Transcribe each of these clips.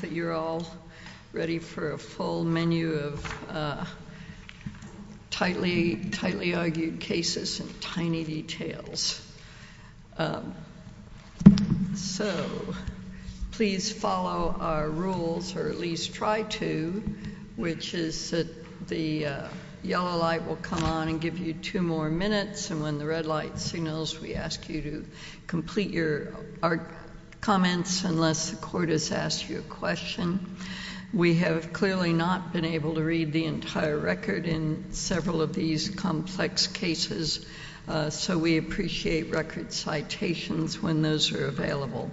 that you're all ready for a full menu of tightly argued cases and tiny details. So please follow our rules, or at least try to, which is that the yellow light will come on and give you two more minutes, and when the red light signals, we ask you to complete your comments unless the court has asked you a question. We have clearly not been able to read the entire record in several of these complex cases, so we appreciate record citations when those are available.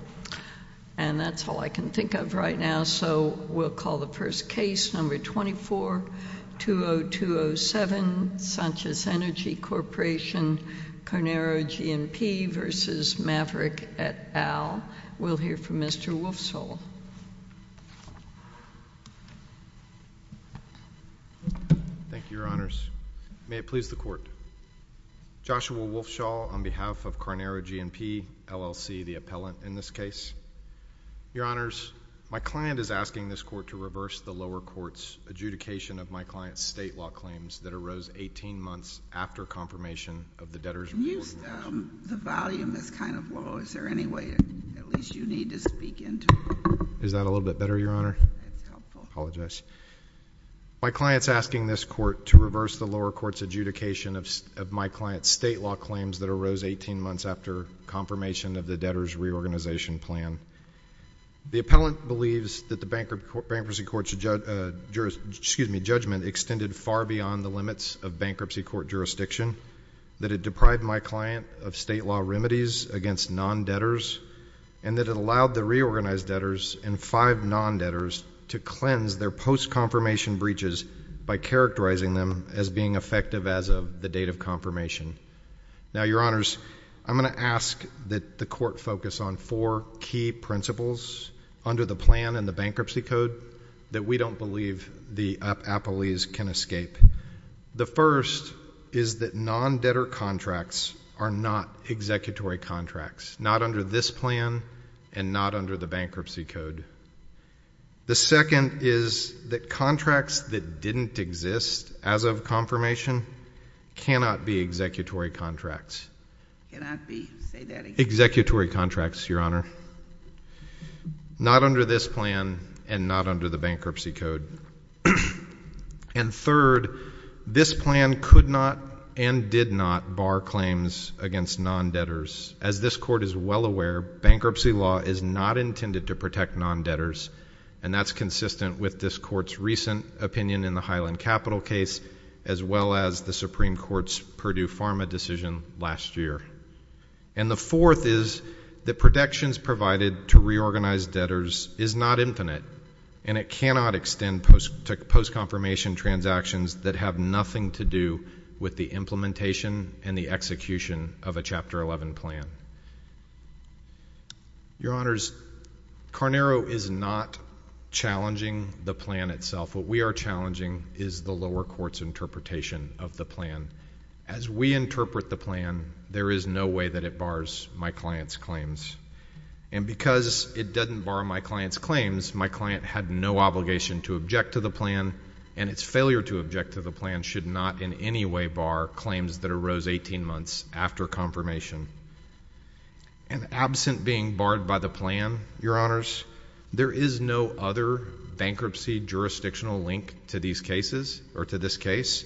And that's all I can think of right now, so we'll call the first case, number 24-20207, Sanchez Energy Corporation, Carnero G&P v. Maverick et al. We'll hear from Mr. Wolfshall. Thank you, Your Honors. May it please the Court. Joshua Wolfshall on behalf of Carnero G&P LLC, the appellant in this case. Your Honors, my client is asking this Court to reverse the lower court's adjudication of my client's state law claims that arose 18 months after confirmation of the debtors' Can you use the volume? It's kind of low. Is there any way at least you need to speak into it? Is that a little bit better, Your Honor? That's helpful. I apologize. My client is asking this Court to reverse the lower court's adjudication of my client's state law claims that arose 18 months after confirmation of the debtors' reorganization plan. The appellant believes that the bankruptcy court's judgment extended far beyond the limits of bankruptcy court jurisdiction, that it deprived my client of state law remedies against non-debtors, and that it allowed the reorganized debtors and five non-debtors to cleanse their post-confirmation breaches by characterizing them as being effective as of the date of confirmation. Now, Your Honors, I'm going to ask that the Court focus on four key principles under the plan and the bankruptcy code that we don't believe the appellees can escape. The first is that non-debtor contracts are not executory contracts, not under this plan and not under the bankruptcy code. The second is that contracts that didn't exist as of confirmation cannot be executory contracts. Cannot be. Say that again. Executory contracts, Your Honor. Not under this plan and not under the bankruptcy code. And third, this plan could not and did not bar claims against non-debtors. As this Court is well aware, bankruptcy law is not intended to protect non-debtors, and that's consistent with this Court's recent opinion in the Highland Capital case, as well as the Supreme Court's Purdue Pharma decision last year. And the fourth is that protections provided to reorganized debtors is not infinite, and it cannot extend to post-confirmation transactions that have nothing to do with the implementation and the execution of a Chapter 11 plan. Your Honors, Carnero is not challenging the plan itself. What we are challenging is the lower court's interpretation of the plan. As we interpret the plan, there is no way that it bars my client's claims. And because it doesn't bar my client's claims, my client had no obligation to object to the rose 18 months after confirmation. And absent being barred by the plan, Your Honors, there is no other bankruptcy jurisdictional link to these cases or to this case,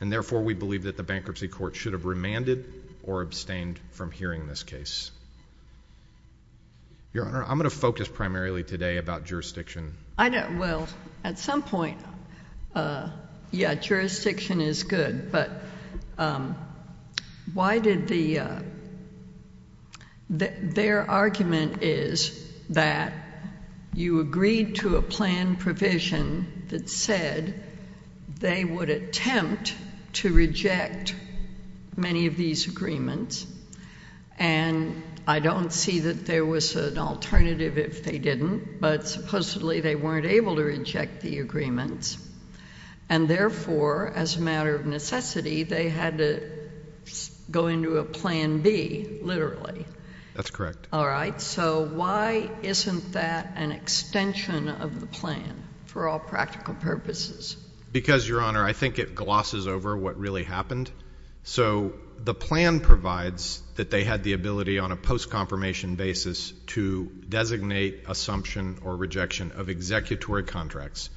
and therefore we believe that the bankruptcy court should have remanded or abstained from hearing this case. Your Honor, I'm going to focus primarily today about jurisdiction. I don't—well, at some point, yeah, jurisdiction is good, but why did the—their argument is that you agreed to a plan provision that said they would attempt to reject many of the agreements, and I don't see that there was an alternative if they didn't, but supposedly they weren't able to reject the agreements, and therefore, as a matter of necessity, they had to go into a Plan B, literally. That's correct. All right. So why isn't that an extension of the plan for all practical purposes? Because Your Honor, I think it glosses over what really happened. So the plan provides that they had the ability on a post-confirmation basis to designate assumption or rejection of executory contracts,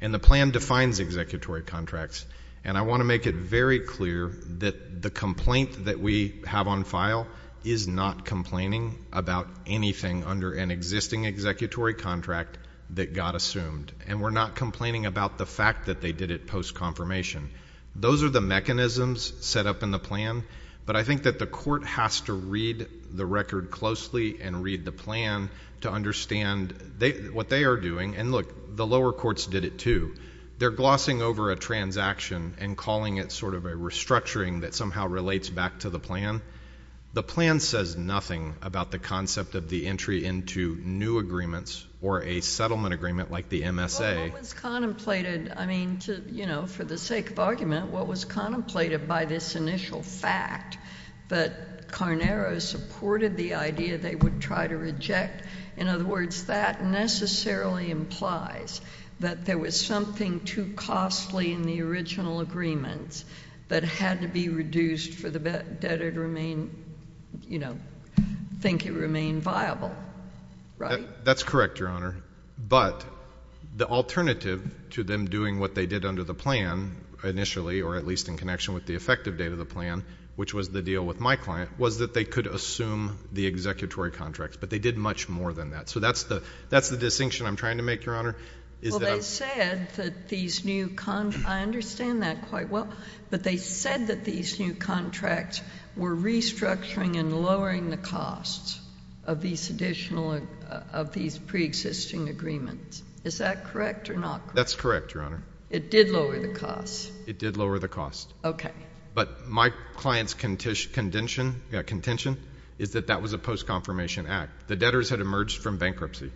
and the plan defines executory contracts, and I want to make it very clear that the complaint that we have on file is not complaining about anything under an existing executory contract that got assumed, and we're not complaining about the fact that they did it post-confirmation. Those are the mechanisms set up in the plan, but I think that the court has to read the record closely and read the plan to understand what they are doing, and look, the lower courts did it too. They're glossing over a transaction and calling it sort of a restructuring that somehow relates back to the plan. The plan says nothing about the concept of the entry into new agreements or a settlement agreement like the MSA. What was contemplated, I mean, to, you know, for the sake of argument, what was contemplated by this initial fact that Carnaro supported the idea they would try to reject, in other words, that necessarily implies that there was something too costly in the original agreements that had to be reduced for the debtor to remain, you know, think it remained viable, right? That's correct, Your Honor. But the alternative to them doing what they did under the plan initially, or at least in connection with the effective date of the plan, which was the deal with my client, was that they could assume the executory contracts, but they did much more than that. So that's the distinction I'm trying to make, Your Honor. Well, they said that these new, I understand that quite well, but they said that these new contracts were restructuring and lowering the costs of these additional, of these pre-existing agreements. Is that correct or not correct? That's correct, Your Honor. It did lower the costs? It did lower the costs. Okay. But my client's contention, yeah, contention, is that that was a post-confirmation act. The debtors had emerged from bankruptcy.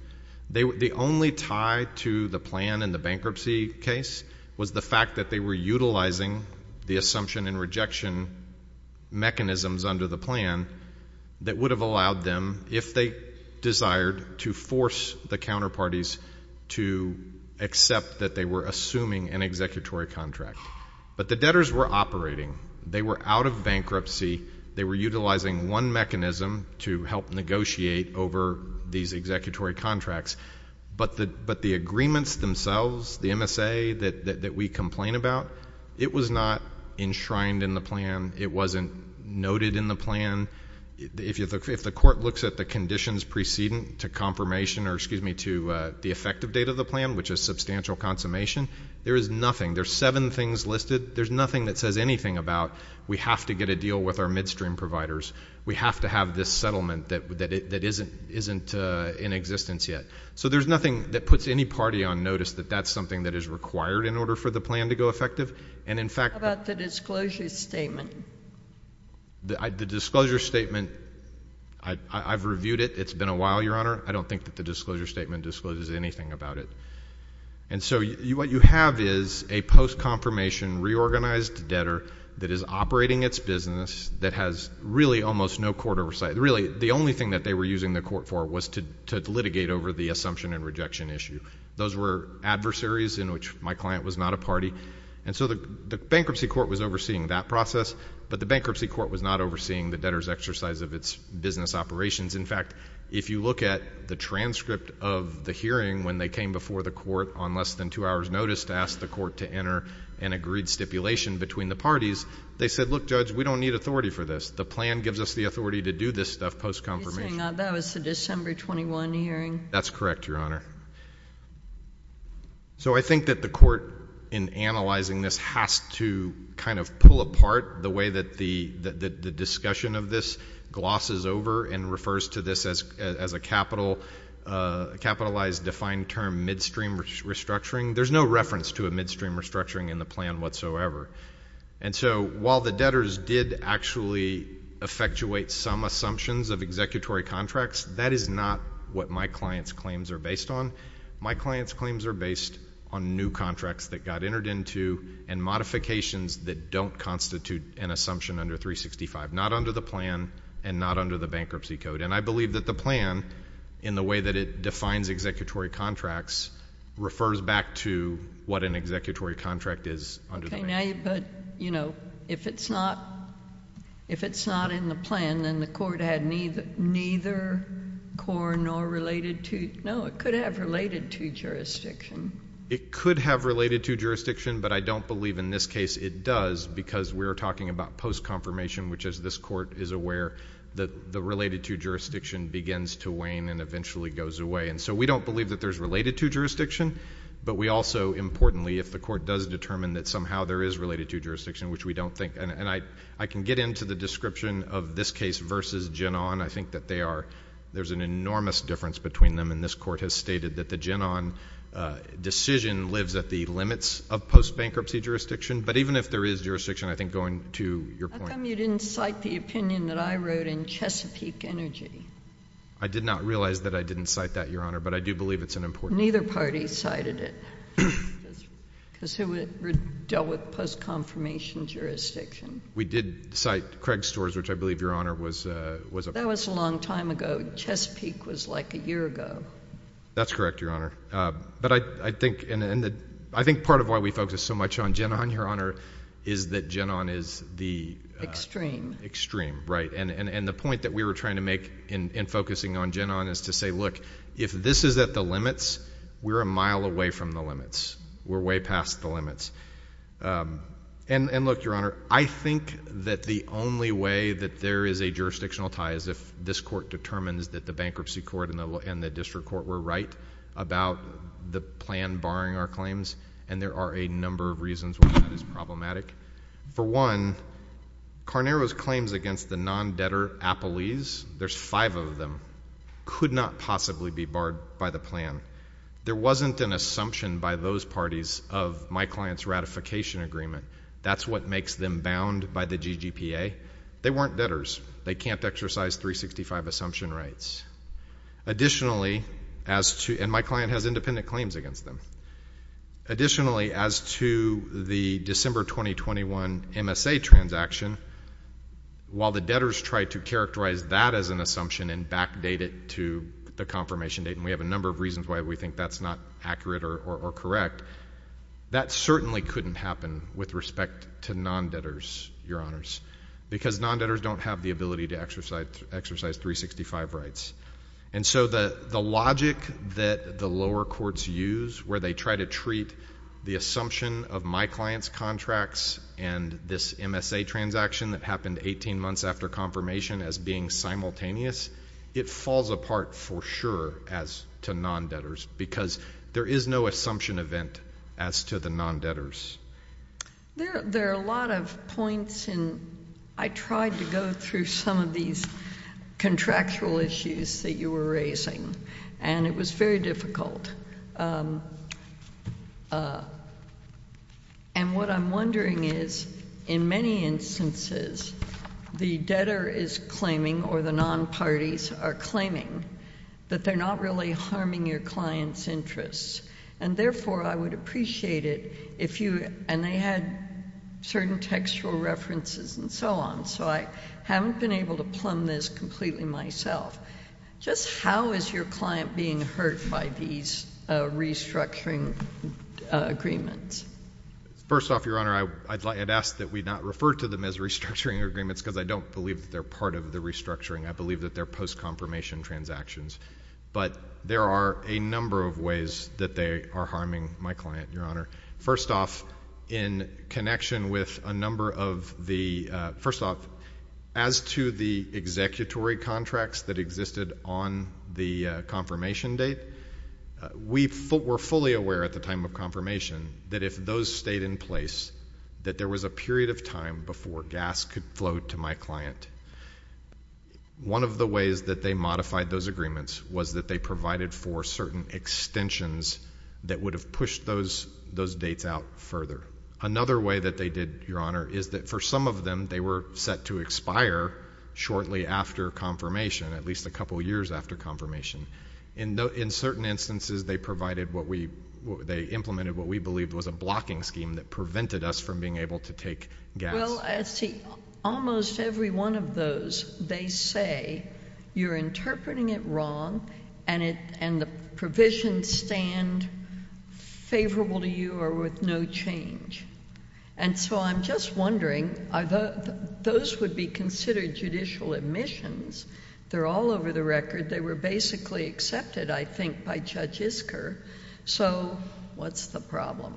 The only tie to the plan in the bankruptcy case was the fact that they were utilizing the assumption and rejection mechanisms under the plan that would have allowed them, if they desired, to force the counterparties to accept that they were assuming an executory contract. But the debtors were operating. They were out of bankruptcy. They were utilizing one mechanism to help negotiate over these executory contracts. But the agreements themselves, the MSA that we complain about, it was not enshrined in the plan. It wasn't noted in the plan. If the court looks at the conditions preceding to confirmation or, excuse me, to the effective date of the plan, which is substantial consummation, there is nothing. There's seven things listed. There's nothing that says anything about we have to get a deal with our midstream providers. We have to have this settlement that isn't in existence yet. So there's nothing that puts any party on notice that that's something that is required in order for the plan to go effective. And in fact— How about the disclosure statement? The disclosure statement, I've reviewed it. It's been a while, Your Honor. I don't think that the disclosure statement discloses anything about it. And so what you have is a post-confirmation reorganized debtor that is operating its business, that has really almost no court oversight. Really the only thing that they were using the court for was to litigate over the assumption and rejection issue. Those were adversaries in which my client was not a party. And so the bankruptcy court was overseeing that process, but the bankruptcy court was not overseeing the debtor's exercise of its business operations. In fact, if you look at the transcript of the hearing when they came before the court on less than two hours' notice to ask the court to enter an agreed stipulation between the parties, they said, look, Judge, we don't need authority for this. The plan gives us the authority to do this stuff post-confirmation. Are you saying that was the December 21 hearing? That's correct, Your Honor. So I think that the court, in analyzing this, has to kind of pull apart the way that the discussion of this glosses over and refers to this as a capitalized, defined term, midstream restructuring. There's no reference to a midstream restructuring in the plan whatsoever. And so while the debtors did actually effectuate some assumptions of executory contracts, that is not what my client's claims are based on. My client's claims are based on new contracts that got entered into and modifications that don't constitute an assumption under 365, not under the plan and not under the bankruptcy code. And I believe that the plan, in the way that it defines executory contracts, refers back to what an executory contract is under the bankruptcy code. Now, but, you know, if it's not in the plan, then the court had neither core nor related to, no, it could have related to jurisdiction. It could have related to jurisdiction, but I don't believe in this case it does because we're talking about post-confirmation, which is this court is aware that the related to jurisdiction begins to wane and eventually goes away. And so we don't believe that there's related to jurisdiction, but we also, importantly, if the court does determine that somehow there is related to jurisdiction, which we don't think, and I can get into the description of this case versus Genon. I think that they are, there's an enormous difference between them, and this court has stated that the Genon decision lives at the limits of post-bankruptcy jurisdiction. But even if there is jurisdiction, I think, going to your point... How come you didn't cite the opinion that I wrote in Chesapeake Energy? I did not realize that I didn't cite that, Your Honor, but I do believe it's an important... Neither party cited it, because who would have dealt with post-confirmation jurisdiction? We did cite Craig Storrs, which I believe, Your Honor, was... That was a long time ago. Chesapeake was like a year ago. That's correct, Your Honor. But I think part of why we focus so much on Genon, Your Honor, is that Genon is the... Extreme. Extreme, right. And the point that we were trying to make in focusing on Genon is to say, look, if this is at the limits, we're a mile away from the limits. We're way past the limits. And look, Your Honor, I think that the only way that there is a jurisdictional tie is if this Court determines that the Bankruptcy Court and the District Court were right about the plan barring our claims. And there are a number of reasons why that is problematic. For one, Carnaro's claims against the non-debtor Applees, there's five of them, could not possibly be barred by the plan. There wasn't an assumption by those parties of my client's ratification agreement. That's what makes them bound by the GGPA. They weren't debtors. They can't exercise 365 assumption rights. Additionally, as to... and my client has independent claims against them. Additionally, as to the December 2021 MSA transaction, while the debtors tried to characterize that as an assumption and backdate it to the confirmation date, and we have a number of reasons why we think that's not accurate or correct, that certainly couldn't happen with respect to non-debtors, Your Honors. Because non-debtors don't have the ability to exercise 365 rights. And so the logic that the lower courts use where they try to treat the assumption of my client's contracts and this MSA transaction that happened 18 months after confirmation as being simultaneous, it falls apart for sure as to non-debtors. Because there is no assumption event as to the non-debtors. There are a lot of points, and I tried to go through some of these contractual issues that you were raising, and it was very difficult. And what I'm wondering is, in many instances, the debtor is claiming or the non-parties are claiming that they're not really harming your client's interests. And therefore, I would appreciate it if you — and they had certain textual references and so on. So I haven't been able to plumb this completely myself. Just how is your client being hurt by these restructuring agreements? First off, Your Honor, I'd ask that we not refer to them as restructuring agreements because I don't believe that they're part of the restructuring. I believe that they're post-confirmation transactions. But there are a number of ways that they are harming my client, Your Honor. First off, in connection with a number of the — first off, as to the executory contracts that existed on the confirmation date, we were fully aware at the time of confirmation that if those stayed in place, that there was a period of time before gas could flow to my client. One of the ways that they modified those agreements was that they provided for certain extensions that would have pushed those dates out further. Another way that they did, Your Honor, is that for some of them, they were set to expire shortly after confirmation, at least a couple years after confirmation. In certain instances, they provided what we — they implemented what we believed was a blocking scheme that prevented us from being able to take gas. Well, I see almost every one of those, they say you're interpreting it wrong and it — and the provisions stand favorable to you or with no change. And so I'm just wondering, are those — those would be considered judicial admissions. They're all over the record. They were basically accepted, I think, by Judge Isker. So what's the problem?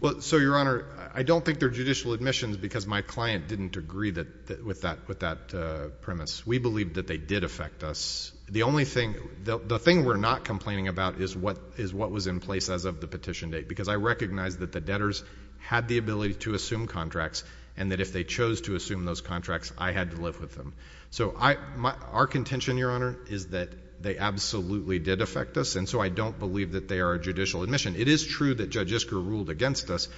Well, so, Your Honor, I don't think they're judicial admissions because my client didn't agree with that premise. We believe that they did affect us. The only thing — the thing we're not complaining about is what was in place as of the petition date, because I recognize that the debtors had the ability to assume contracts and that if they chose to assume those contracts, I had to live with them. So our contention, Your Honor, is that they absolutely did affect us, and so I don't believe that they are a judicial admission. It is true that Judge Isker ruled against us,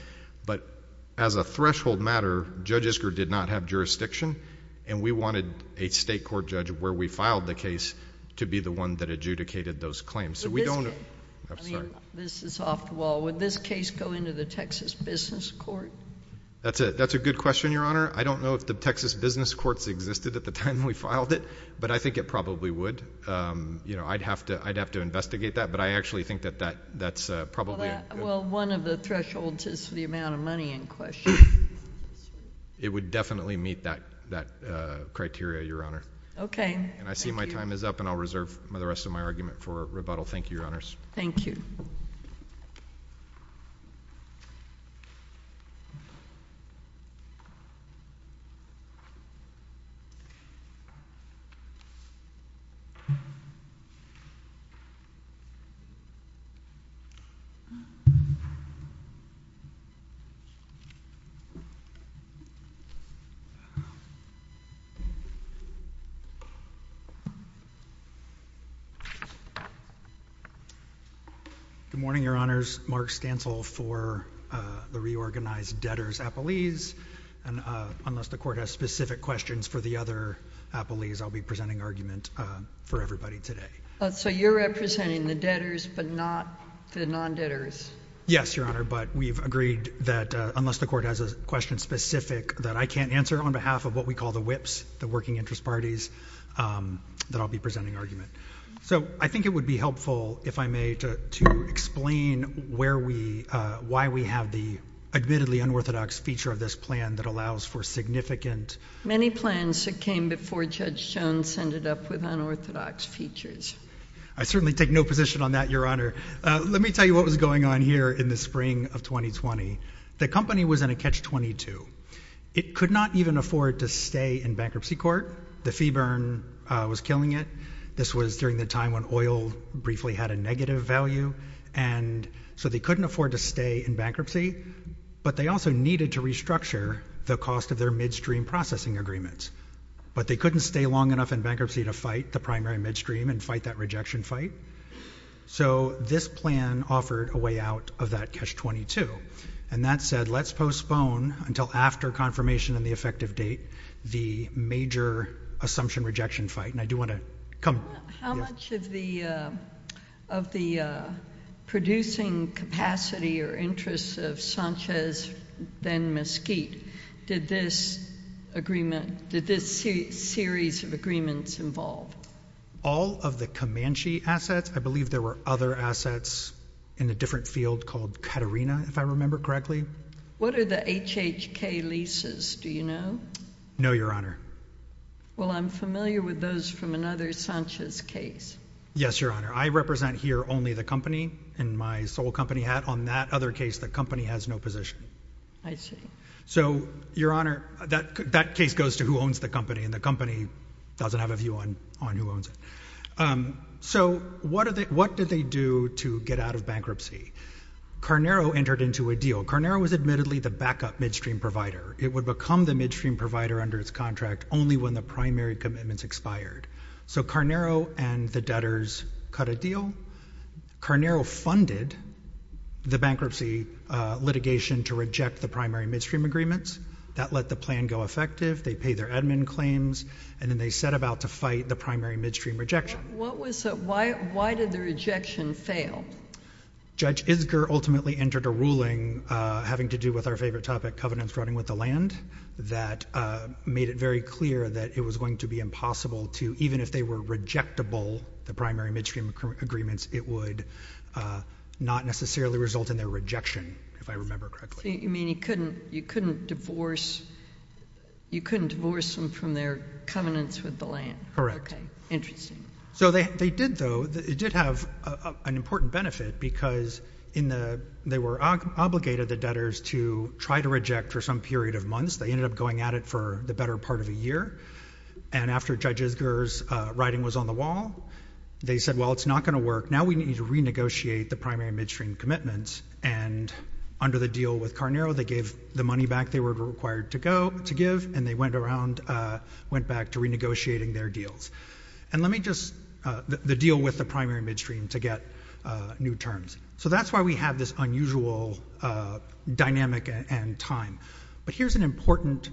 but as a threshold matter, Judge Isker did not have jurisdiction, and we wanted a state court judge where we filed the case to be the one that adjudicated those claims. So we don't — But this case — I'm sorry. I mean, this is off the wall. Would this case go into the Texas Business Court? That's a — that's a good question, Your Honor. I don't know if the Texas Business Court existed at the time we filed it, but I think it probably would. You know, I'd have to — I'd have to investigate that, but I actually think that that's probably — Well, that — well, one of the thresholds is the amount of money in question. It would definitely meet that criteria, Your Honor. Okay. Thank you. And I see my time is up, and I'll reserve the rest of my argument for rebuttal. Thank you, Your Honors. Thank you. Good morning, Your Honors. Mark Stansel for the Reorganized Debtors Appellees, and unless the Court has specific questions for the other appellees, I'll be presenting argument for everybody today. So you're representing the debtors but not the non-debtors? Yes, Your Honor, but we've agreed that unless the Court has a question specific that I can't answer on behalf of what we call the WIPs, the Working Interest Parties, that I'll be presenting argument. So I think it would be helpful, if I may, to explain where we — why we have the admittedly unorthodox feature of this plan that allows for significant — Many plans that came before Judge Jones ended up with unorthodox features. I certainly take no position on that, Your Honor. Let me tell you what was going on here in the spring of 2020. The company was in a catch-22. It could not even afford to stay in bankruptcy court. The fee burn was killing it. This was during the time when oil briefly had a negative value, and so they couldn't afford to stay in bankruptcy, but they also needed to restructure the cost of their midstream processing agreements. But they couldn't stay long enough in bankruptcy to fight the primary midstream and fight that rejection fight. So this plan offered a way out of that catch-22, and that said, let's postpone until after confirmation and the effective date the major assumption-rejection fight, and I do want to — come — How much of the — of the producing capacity or interests of Sanchez, then Mesquite, did this agreement — did this series of agreements involve? All of the Comanche assets. I believe there were other assets in a different field called Caterina, if I remember correctly. What are the HHK leases, do you know? No, Your Honor. Well, I'm familiar with those from another Sanchez case. Yes, Your Honor. I represent here only the company, and my sole company had on that other case the company has no position. I see. So, Your Honor, that case goes to who owns the company, and the company doesn't have a view on who owns it. So what did they do to get out of bankruptcy? Carnero entered into a deal. Carnero was admittedly the backup midstream provider. It would become the midstream provider under its contract only when the primary commitments expired. So Carnero and the debtors cut a deal. Carnero funded the bankruptcy litigation to reject the primary midstream agreements. That let the plan go effective. They paid their admin claims, and then they set about to fight the primary midstream rejection. What was — why did the rejection fail? Judge Isger ultimately entered a ruling having to do with our favorite topic, covenants running with the land, that made it very clear that it was going to be impossible to — even if they were rejectable, the primary midstream agreements, it would not necessarily result in their rejection, if I remember correctly. You mean you couldn't — you couldn't divorce — you couldn't divorce them from their covenants with the land? Correct. Okay. Interesting. So they did, though — it did have an important benefit, because in the — they were obligated by the debtors to try to reject for some period of months. They ended up going at it for the better part of a year. And after Judge Isger's writing was on the wall, they said, well, it's not going to work. Now we need to renegotiate the primary midstream commitments, and under the deal with Carnero, they gave the money back they were required to go — to give, and they went around — went back to renegotiating their deals. And let me just — the deal with the primary midstream to get new terms. So that's why we have this unusual dynamic and time. But here's an important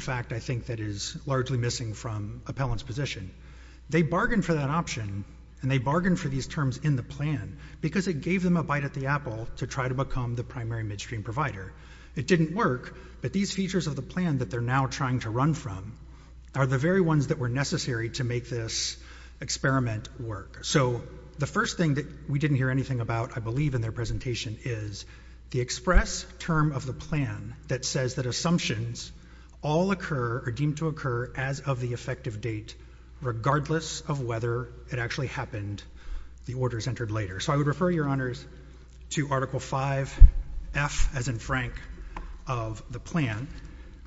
fact, I think, that is largely missing from Appellant's position. They bargained for that option, and they bargained for these terms in the plan, because it gave them a bite at the apple to try to become the primary midstream provider. It didn't work, but these features of the plan that they're now trying to run from are the very ones that were necessary to make this experiment work. So the first thing that we didn't hear anything about, I believe, in their presentation is the express term of the plan that says that assumptions all occur — are deemed to occur as of the effective date, regardless of whether it actually happened, the orders entered later. So I would refer, Your Honors, to Article V.F., as in Frank, of the plan,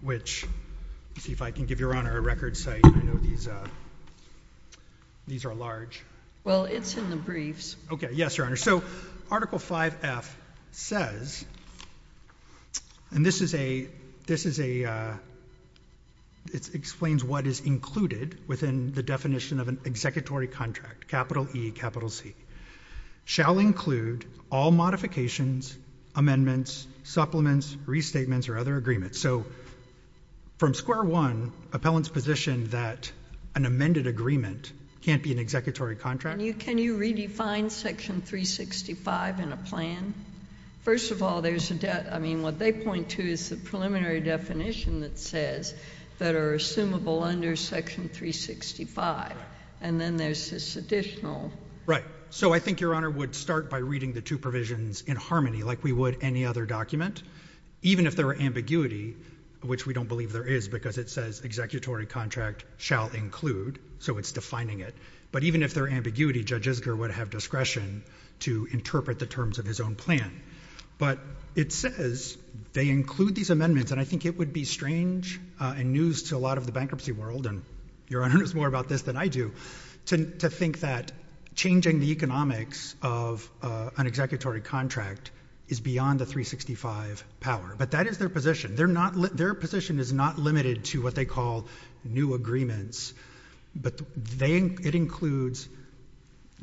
which — let's see if I can give Your Honor a record site. I know these are large. Well, it's in the briefs. Okay. Yes, Your Honor. So Article V.F. says — and this is a — it explains what is included within the definition of an executory contract, capital E, capital C — shall include all modifications, amendments, supplements, restatements, or other agreements. So from square one, appellants position that an amended agreement can't be an executory contract. Can you redefine Section 365 in a plan? First of all, there's a — I mean, what they point to is the preliminary definition that says that are assumable under Section 365. And then there's this additional — Right. So I think Your Honor would start by reading the two provisions in harmony, like we would any other document, even if there were ambiguity, which we don't believe there is because it says executory contract shall include, so it's defining it. But even if there were ambiguity, Judge Isger would have discretion to interpret the terms of his own plan. But it says they include these amendments, and I think it would be strange and news to a lot of the bankruptcy world — and Your Honor knows more about this than I do — to think that changing the economics of an executory contract is beyond the 365 power. But that is their position. Their position is not limited to what they call new agreements, but it includes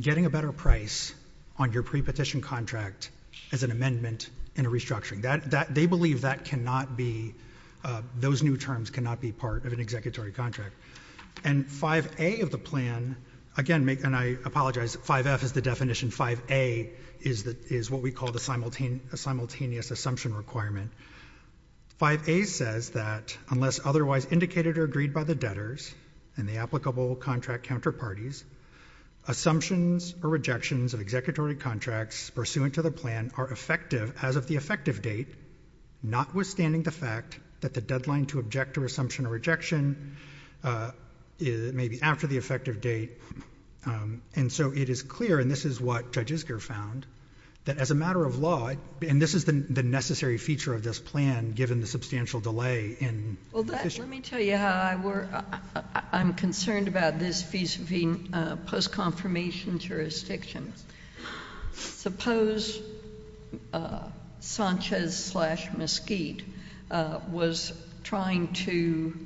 getting a better price on your pre-petition contract as an amendment and a restructuring. They believe that cannot be — those new terms cannot be part of an executory contract. And 5A of the plan — again, and I apologize, 5F is the definition, 5A is what we call the simultaneous assumption requirement — 5A says that unless otherwise indicated or agreed by the debtors and the applicable contract counterparties, assumptions or rejections of executory contracts pursuant to the plan are effective as of the effective date, notwithstanding the fact that the deadline to object to assumption or rejection may be after the effective date. And so it is clear, and this is what Judge Isger found, that as a matter of law — and this is the necessary feature of this plan, given the substantial delay in — Well, let me tell you how I'm concerned about this post-confirmation jurisdiction. Suppose Sanchez-Mesquite was trying to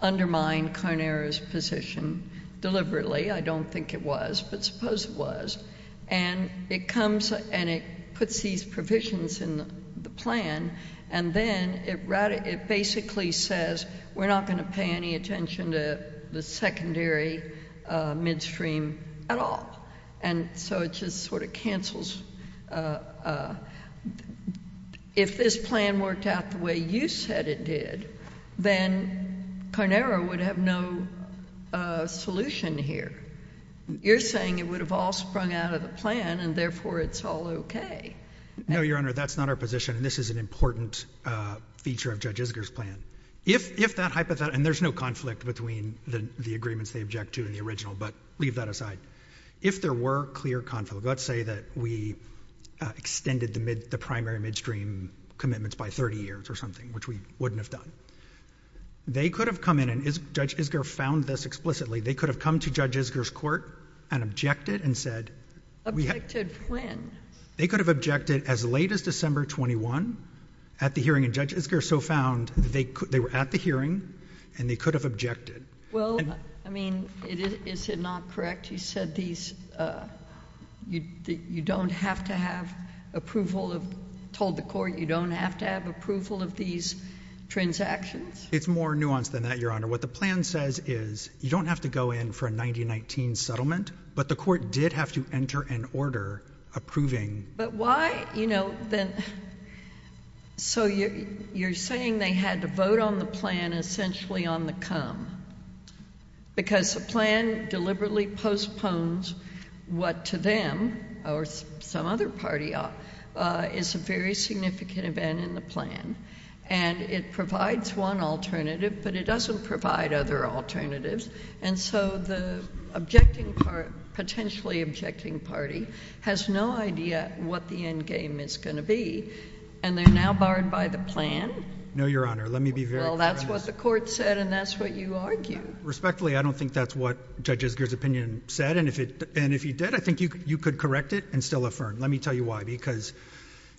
undermine Carnera's position deliberately — I don't think it was, but suppose it was — and it comes and it puts these provisions in the plan, and then it basically says, we're not going to pay any attention to the secondary midstream at all. And so it just sort of cancels — if this plan worked out the way you said it did, then Carnera would have no solution here. You're saying it would have all sprung out of the plan, and therefore it's all okay. No, Your Honor, that's not our position, and this is an important feature of Judge Isger's plan. If that hypothetical — and there's no conflict between the agreements they object to and the original, but leave that aside. If there were clear conflict — let's say that we extended the primary midstream commitments by 30 years or something, which we wouldn't have done. They could have come in — and Judge Isger found this explicitly — they could have come to Judge Isger's court and objected and said — Objected when? They could have objected as late as December 21 at the hearing, and Judge Isger so found that they were at the hearing, and they could have objected. Well, I mean, is it not correct? You said these — you don't have to have approval of — told the court you don't have to have approval of these transactions? It's more nuanced than that, Your Honor. What the plan says is you don't have to go in for a 1919 settlement, but the court did have to enter an order approving — But why — you know, then — so you're saying they had to vote on the plan essentially on the come, because the plan deliberately postpones what to them, or some other party, is a very significant event in the plan, and it provides one alternative, but it doesn't provide other alternatives, and so the objecting — potentially objecting party has no idea what the endgame is going to be, and they're now barred by the plan? No, Your Honor. Let me be very — Well, that's what the court said, and that's what you argued. Respectfully, I don't think that's what Judge Isger's opinion said, and if it — and if he did, I think you could correct it and still affirm. Let me tell you why. Because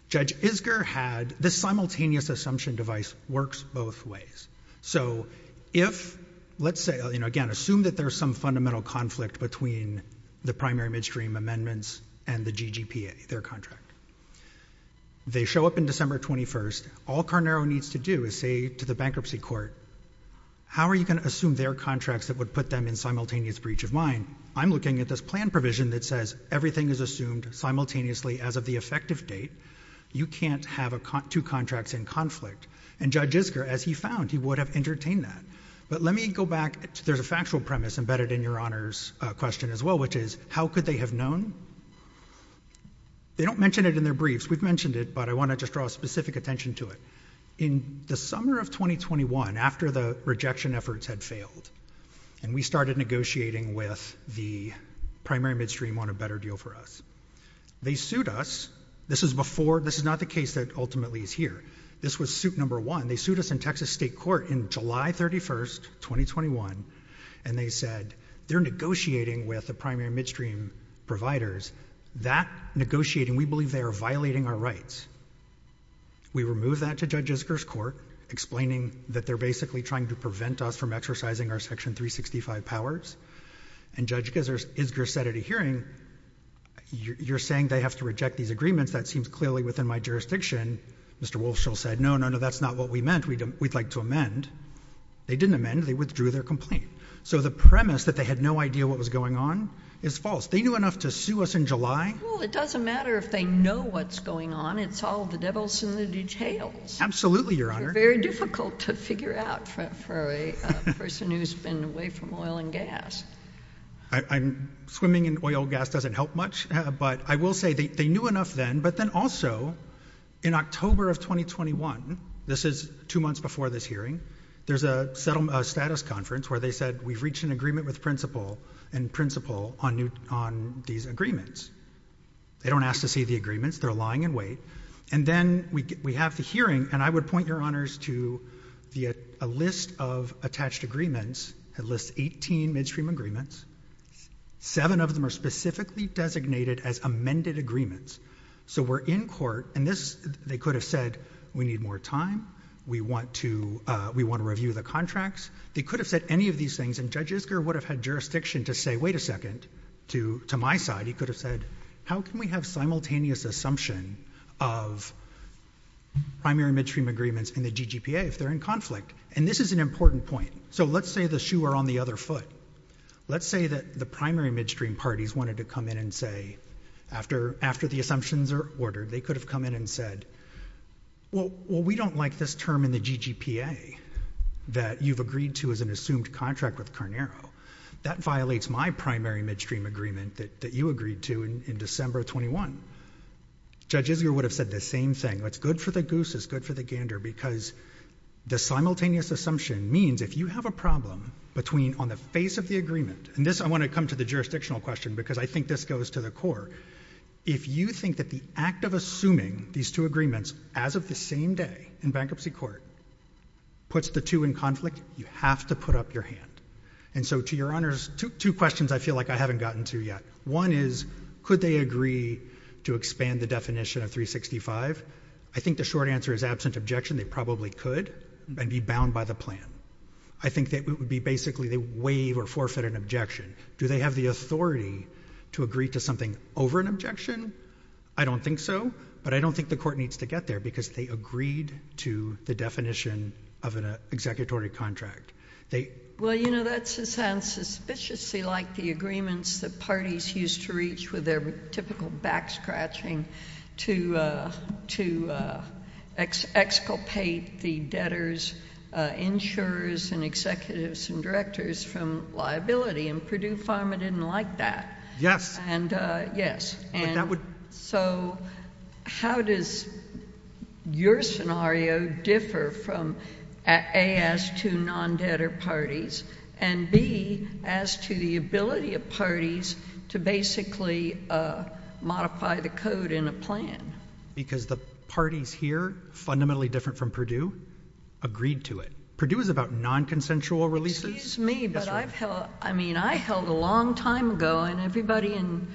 Judge Isger had — this simultaneous assumption device works both ways. So if — let's say — you know, again, assume that there's some fundamental conflict between the primary midstream amendments and the GGPA, their contract. They show up in December 21st. All Carnaro needs to do is say to the bankruptcy court, how are you going to assume their contracts that would put them in simultaneous breach of mind? I'm looking at this plan provision that says everything is assumed simultaneously as of the effective date. You can't have two contracts in conflict. And Judge Isger, as he found, he would have entertained that. But let me go back. There's a factual premise embedded in your Honor's question as well, which is, how could they have known? They don't mention it in their briefs. We've mentioned it, but I want to just draw specific attention to it. In the summer of 2021, after the rejection efforts had failed, and we started negotiating with the primary midstream on a better deal for us, they sued us. This is before — this is not the case that ultimately is here. This was suit number one. They sued us in Texas state court in July 31st, 2021, and they said, they're negotiating with the primary midstream providers. That negotiating, we believe they are violating our rights. We removed that to Judge Isger's court, explaining that they're basically trying to prevent us from exercising our Section 365 powers. And Judge Isger said at a hearing, you're saying they have to reject these agreements? That seems clearly within my jurisdiction. Mr. Walshall said, no, no, no, that's not what we meant. We'd like to amend. They didn't amend. They withdrew their complaint. So the premise that they had no idea what was going on is false. They knew enough to sue us in July. Well, it doesn't matter if they know what's going on. It's all the devil's in the details. Absolutely, Your Honor. Very difficult to figure out for a person who's been away from oil and gas. Swimming in oil and gas doesn't help much, but I will say they knew enough then. But then also, in October of 2021, this is two months before this hearing, there's a status conference where they said, we've reached an agreement with the principal and principal on these agreements. They don't ask to see the agreements. They're lying in wait. And then we have the hearing, and I would point, Your Honors, to a list of attached agreements. It lists 18 midstream agreements. Seven of them are specifically designated as amended agreements. So we're in court, and they could have said, we need more time. We want to review the contracts. They could have said any of these things, and Judge Isger would have had jurisdiction to say, wait a second, to my side, he could have said, how can we have simultaneous assumption of primary midstream agreements in the GGPA if they're in conflict? And this is an important point. So let's say the shoe are on the other foot. Let's say that the primary midstream parties wanted to come in and say, after the assumptions are ordered, they could have come in and said, well, we don't like this term in the GGPA that you've agreed to as an assumed contract with Carnero. That violates my primary midstream agreement that you agreed to in December of 21. Judge Isger would have said the same thing. It's good for the goose. It's good for the gander, because the simultaneous assumption means if you have a problem between on the face of the agreement, and this, I want to come to the jurisdictional question, because I think this goes to the core. If you think that the act of assuming these two agreements as of the same day in bankruptcy court puts the two in conflict, you have to put up your hand. And so to your honors, two questions I feel like I haven't gotten to yet. One is, could they agree to expand the definition of 365? I think the short answer is absent objection, they probably could, and be bound by the plan. I think that it would be basically they waive or forfeit an objection. Do they have the authority to agree to something over an objection? I don't think so, but I don't think the court needs to get there, because they agreed to the definition of an executory contract. Well, you know, that sounds suspiciously like the agreements that parties used to reach with their typical back-scratching to exculpate the debtors, insurers, and executives, and directors from liability, and Purdue Pharma didn't like that. Yes. Yes. But that would— So how does your scenario differ from A, as to non-debtor parties, and B, as to the ability of parties to basically modify the code in a plan? Because the parties here, fundamentally different from Purdue, agreed to it. Purdue is about non-consensual releases. Excuse me, but I've held—I mean, I held a long time ago, and everybody in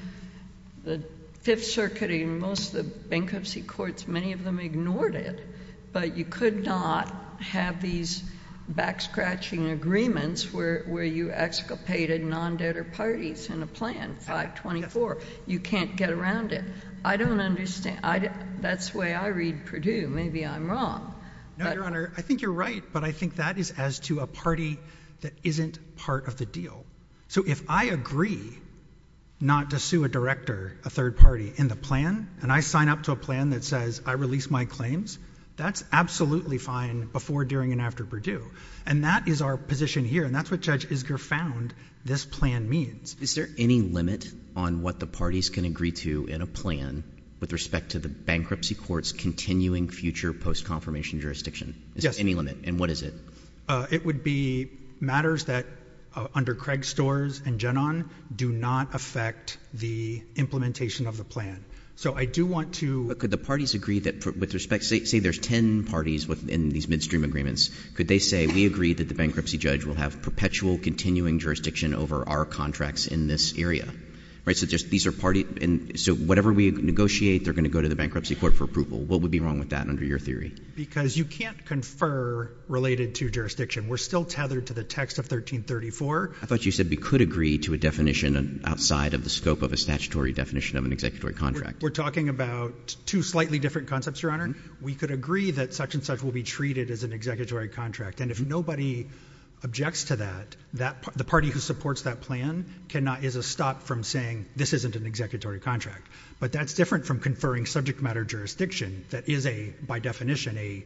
the Fifth Circuit and most of the bankruptcy courts, many of them ignored it, but you could not have these back-scratching agreements where you exculpated non-debtor parties in a plan, 524. You can't get around it. I don't understand. That's the way I read Purdue. Maybe I'm wrong. No, Your Honor. I think you're right, but I think that is as to a party that isn't part of the deal. So if I agree not to sue a director, a third party, in the plan, and I sign up to a plan that says, I release my claims, that's absolutely fine before, during, and after Purdue. And that is our position here, and that's what Judge Isger found this plan means. Is there any limit on what the parties can agree to in a plan with respect to the bankruptcy court's continuing future post-confirmation jurisdiction? Yes. Is there any limit, and what is it? It would be matters that, under Craig Storrs and Genon, do not affect the implementation of the plan. So I do want to— But could the parties agree that, with respect—say there's 10 parties in these midstream agreements. Could they say, we agree that the bankruptcy judge will have perpetual continuing jurisdiction over our contracts in this area? Right? So just these are parties—so whatever we negotiate, they're going to go to the bankruptcy court for approval. What would be wrong with that under your theory? Because you can't confer related to jurisdiction. We're still tethered to the text of 1334. I thought you said we could agree to a definition outside of the scope of a statutory definition of an executive contract. We're talking about two slightly different concepts, Your Honor. We could agree that such and such will be treated as an executive contract, and if nobody objects to that, the party who supports that plan is a stop from saying, this isn't an executive contract. But that's different from conferring subject matter jurisdiction that is, by definition,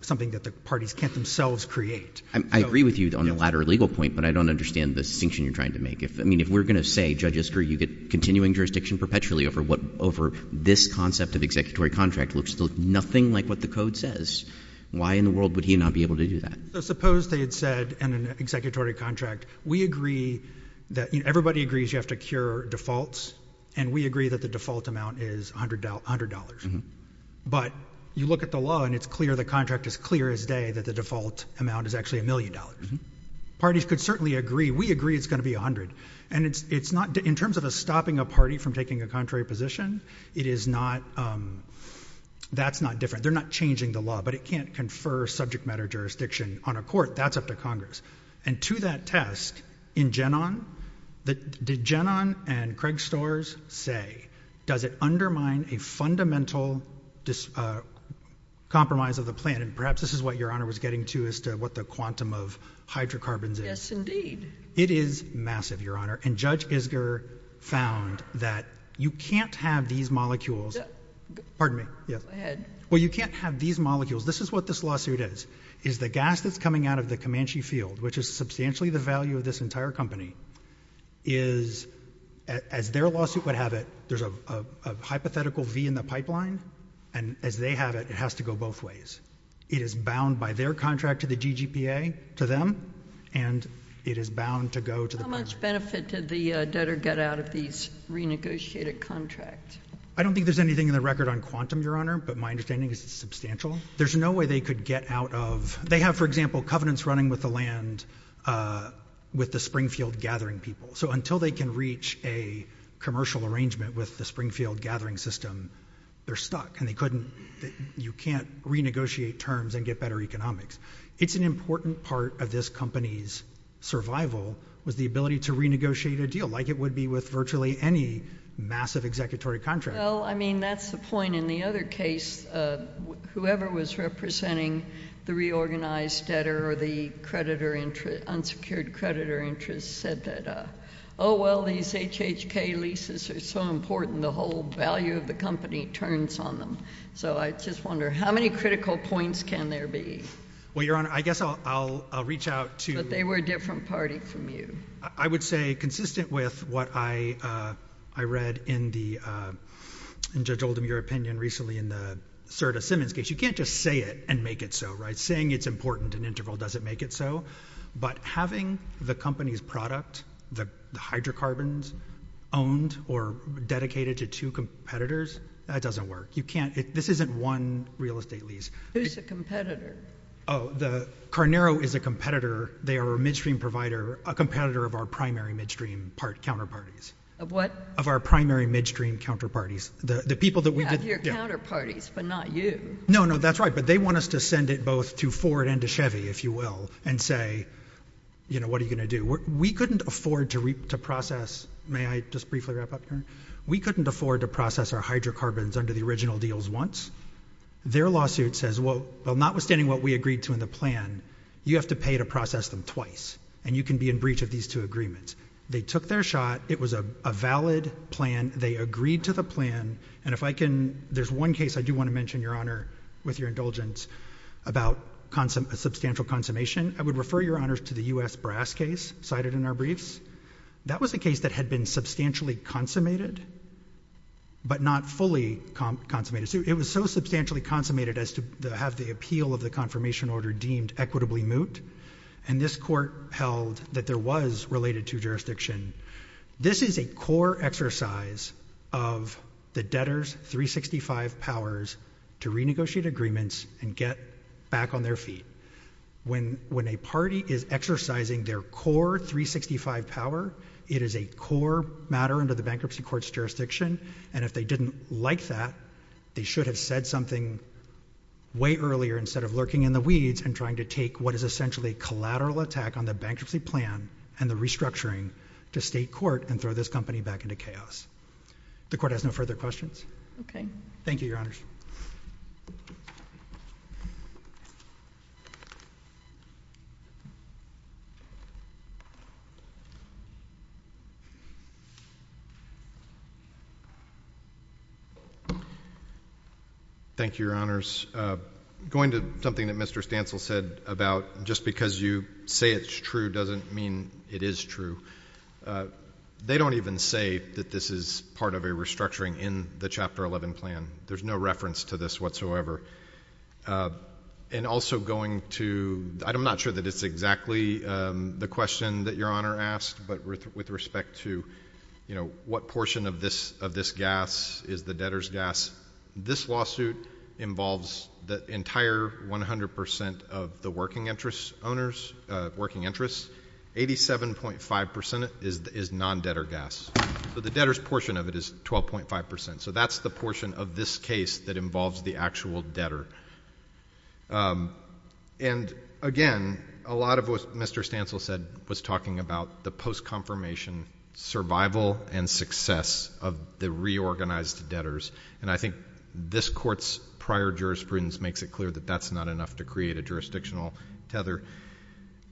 something that the parties can't themselves create. I agree with you on the latter legal point, but I don't understand the distinction you're trying to make. I mean, if we're going to say, Judge Isker, you get continuing jurisdiction perpetually over this concept of executive contract, it looks nothing like what the code says. Why in the world would he not be able to do that? Suppose they had said in an executive contract, we agree that everybody agrees you have to cure defaults, and we agree that the default amount is $100. But you look at the law, and it's clear, the contract is clear as day that the default amount is actually $1 million. Parties could certainly agree, we agree it's going to be $100. And it's not, in terms of stopping a party from taking a contrary position, it is not, that's not different. They're not changing the law, but it can't confer subject matter jurisdiction on a court. That's up to Congress. And to that test, in Genon, did Genon and Craig Storrs say, does it undermine a fundamental compromise of the plan? And perhaps this is what Your Honor was getting to as to what the quantum of hydrocarbons is. Yes, indeed. It is massive, Your Honor. And Judge Isger found that you can't have these molecules, this is what this lawsuit is, is the gas that's coming out of the Comanche field, which is substantially the value of this entire company, is, as their lawsuit would have it, there's a hypothetical V in the pipeline, and as they have it, it has to go both ways. It is bound by their contract to the GGPA, to them, and it is bound to go to the- How much benefit did the debtor get out of these renegotiated contracts? I don't think there's anything in the record on quantum, Your Honor, but my understanding is it's substantial. There's no way they could get out of, they have, for example, covenants running with the land with the Springfield gathering people. So until they can reach a commercial arrangement with the Springfield gathering system, they're stuck. And they couldn't, you can't renegotiate terms and get better economics. It's an important part of this company's survival was the ability to renegotiate a deal like it would be with virtually any massive executory contract. Well, I mean, that's the point. In the other case, whoever was representing the reorganized debtor or the creditor, unsecured creditor interest said that, oh, well, these HHK leases are so important, the whole value of the company turns on them. So I just wonder, how many critical points can there be? Well, Your Honor, I guess I'll reach out to- But they were a different party from you. I would say consistent with what I read in the, and Judge Oldham, your opinion recently in the Serta-Simmons case, you can't just say it and make it so, right? Saying it's important in interval doesn't make it so. But having the company's product, the hydrocarbons, owned or dedicated to two competitors, that doesn't work. You can't, this isn't one real estate lease. Who's the competitor? Oh, the, Carnero is a competitor. They are a midstream provider, a competitor of our primary midstream counterparties. Of what? Of our primary midstream counterparties. The people that we did- Yeah, of your counterparties, but not you. No, no, that's right. But they want us to send it both to Ford and to Chevy, if you will, and say, you know, what are you going to do? We couldn't afford to process, may I just briefly wrap up here? We couldn't afford to process our hydrocarbons under the original deals once. Their lawsuit says, well, notwithstanding what we agreed to in the plan, you have to pay to process them twice. And you can be in breach of these two agreements. They took their shot. It was a valid plan. They agreed to the plan. And if I can, there's one case I do want to mention, Your Honor, with your indulgence, about substantial consummation. I would refer, Your Honors, to the U.S. Brass case cited in our briefs. That was a case that had been substantially consummated, but not fully consummated. It was so substantially consummated as to have the appeal of the confirmation order deemed equitably moot. And this court held that there was related to jurisdiction. This is a core exercise of the debtor's 365 powers to renegotiate agreements and get back on their feet. When a party is exercising their core 365 power, it is a core matter under the bankruptcy court's jurisdiction. And if they didn't like that, they should have said something way earlier instead of lurking in the weeds and trying to take what is essentially a collateral attack on the bankruptcy plan and the restructuring to state court and throw this company back into chaos. The court has no further questions? Thank you, Your Honors. Thank you, Your Honors. Going to something that Mr. Stancel said about just because you say it's true doesn't mean it is true. They don't even say that this is part of a restructuring in the Chapter 11 plan. There's no reference to this whatsoever. And also going to—I'm not sure that it's exactly the question that Your Honor asked, but with respect to, you know, what portion of this gas is the debtor's gas, this lawsuit involves the entire 100 percent of the working interest owners—working interest. Eighty-seven point five percent is non-debtor gas. So the debtor's portion of it is 12.5 percent. So that's the portion of this case that involves the actual debtor. And again, a lot of what Mr. Stancel said was talking about the post-confirmation survival and success of the reorganized debtors. And I think this Court's prior jurisprudence makes it clear that that's not enough to create a jurisdictional tether.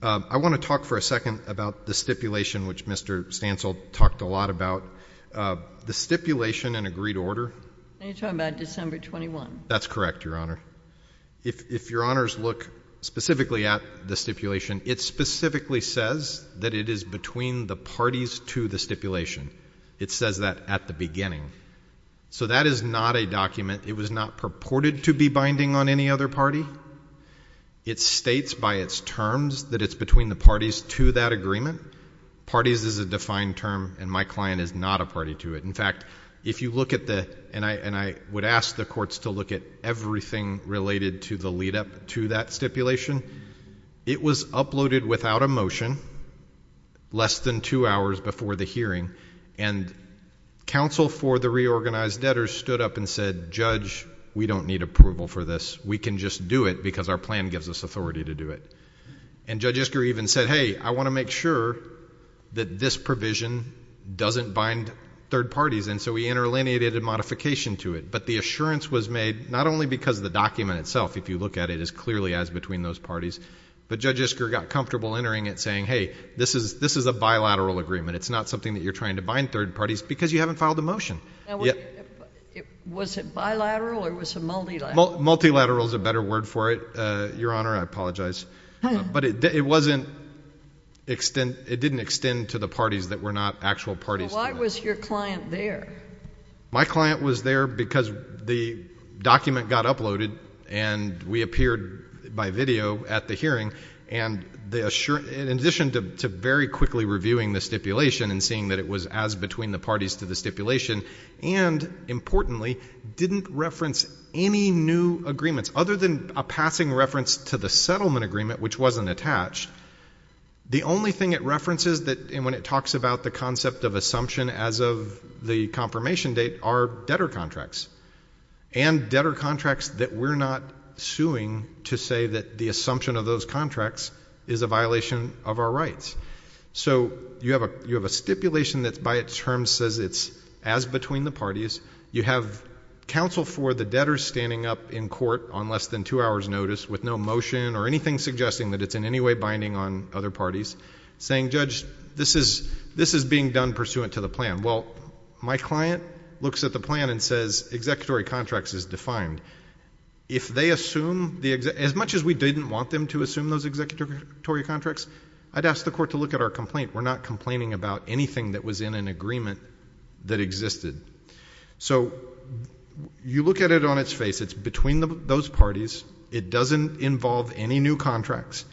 I want to talk for a second about the stipulation, which Mr. Stancel talked a lot about. The stipulation in agreed order— Are you talking about December 21? That's correct, Your Honor. If Your Honors look specifically at the stipulation, it specifically says that it is between the parties to the stipulation. It says that at the beginning. So that is not a document. It was not purported to be binding on any other party. It states by its terms that it's between the parties to that agreement. Parties is a defined term, and my client is not a party to it. In fact, if you look at the—and I would ask the courts to look at everything related to the lead-up to that stipulation. It was uploaded without a motion less than two hours before the hearing, and counsel for the reorganized debtors stood up and said, Judge, we don't need approval for this. We can just do it because our plan gives us authority to do it. And Judge Isker even said, hey, I want to make sure that this provision doesn't bind third parties. And so we interlineated a modification to it. But the assurance was made not only because the document itself, if you look at it, is clearly as between those parties. But Judge Isker got comfortable entering it saying, hey, this is a bilateral agreement. It's not something that you're trying to bind third parties because you haven't filed the motion. Now, was it bilateral or was it multilateral? Multilateral is a better word for it, Your Honor, I apologize. But it wasn't—it didn't extend to the parties that were not actual parties to it. Well, why was your client there? My client was there because the document got uploaded and we appeared by video at the hearing, and in addition to very quickly reviewing the stipulation and seeing that it was as between the parties to the stipulation and, importantly, didn't reference any new agreements other than a passing reference to the settlement agreement, which wasn't attached. The only thing it references that—and when it talks about the concept of assumption as of the confirmation date are debtor contracts and debtor contracts that we're not suing to say that the assumption of those contracts is a violation of our rights. So you have a stipulation that by its terms says it's as between the parties. You have counsel for the debtor standing up in court on less than two hours' notice with no motion or anything suggesting that it's in any way binding on other parties saying, Judge, this is being done pursuant to the plan. Well, my client looks at the plan and says, executory contracts is defined. If they assume—as much as we didn't want them to assume those executory contracts, I'd ask the court to look at our complaint. We're not complaining about anything that was in an agreement that existed. So you look at it on its face. It's between those parties. It doesn't involve any new contracts.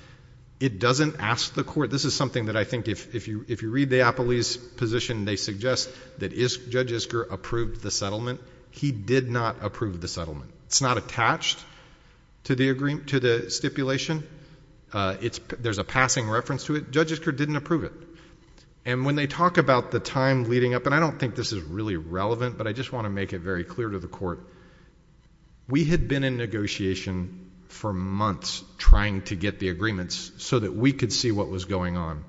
It doesn't ask the court—this is something that I think if you read the Appley's position, they suggest that Judge Isker approved the settlement. He did not approve the settlement. It's not attached to the stipulation. There's a passing reference to it. Judge Isker didn't approve it. And when they talk about the time leading up—and I don't think this is really relevant, but I just want to make it very clear to the court—we had been in negotiation for months trying to get the agreements so that we could see what was going on.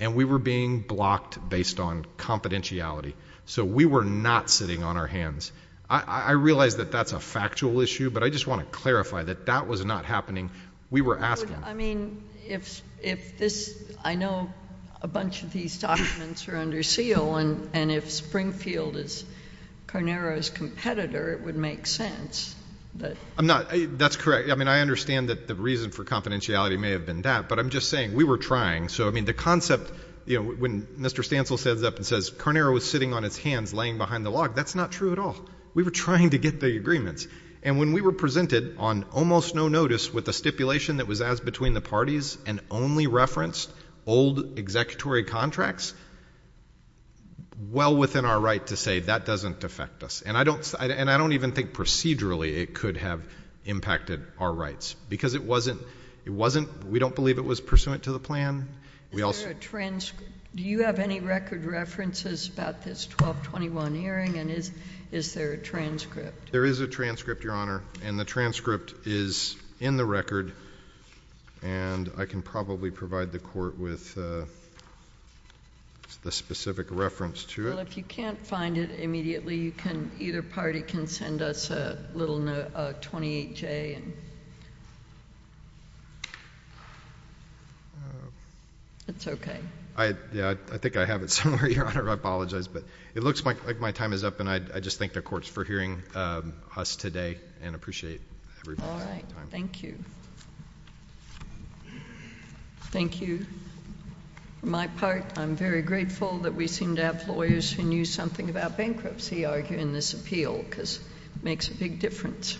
And we were being blocked based on confidentiality. So we were not sitting on our hands. I realize that that's a factual issue, but I just want to clarify that that was not happening. We were asking— I mean, if this—I know a bunch of these documents are under seal, and if Springfield is Carnero's competitor, it would make sense that— I'm not—that's correct. I mean, I understand that the reason for confidentiality may have been that, but I'm just saying, we were trying. So, I mean, the concept, you know, when Mr. Stancil stands up and says, Carnero is sitting on his hands laying behind the log, that's not true at all. We were trying to get the agreements. And when we were presented on almost no notice with a stipulation that was as between the parties and only referenced old executory contracts, well within our right to say that doesn't affect us. And I don't—and I don't even think procedurally it could have impacted our rights because it wasn't—it wasn't—we don't believe it was pursuant to the plan. We also— Is there a transcript? Do you have any record references about this 1221 hearing, and is there a transcript? There is a transcript, Your Honor. And the transcript is in the record, and I can probably provide the Court with the specific reference to it. Well, if you can't find it immediately, you can—either party can send us a little note, a 28-J, and it's okay. I—yeah, I think I have it somewhere, Your Honor, I apologize, but it looks like my time is up. And I just thank the Courts for hearing us today and appreciate everybody's time. All right. Thank you. Thank you. On my part, I'm very grateful that we seem to have lawyers who knew something about bankruptcy arguing this appeal because it makes a big difference.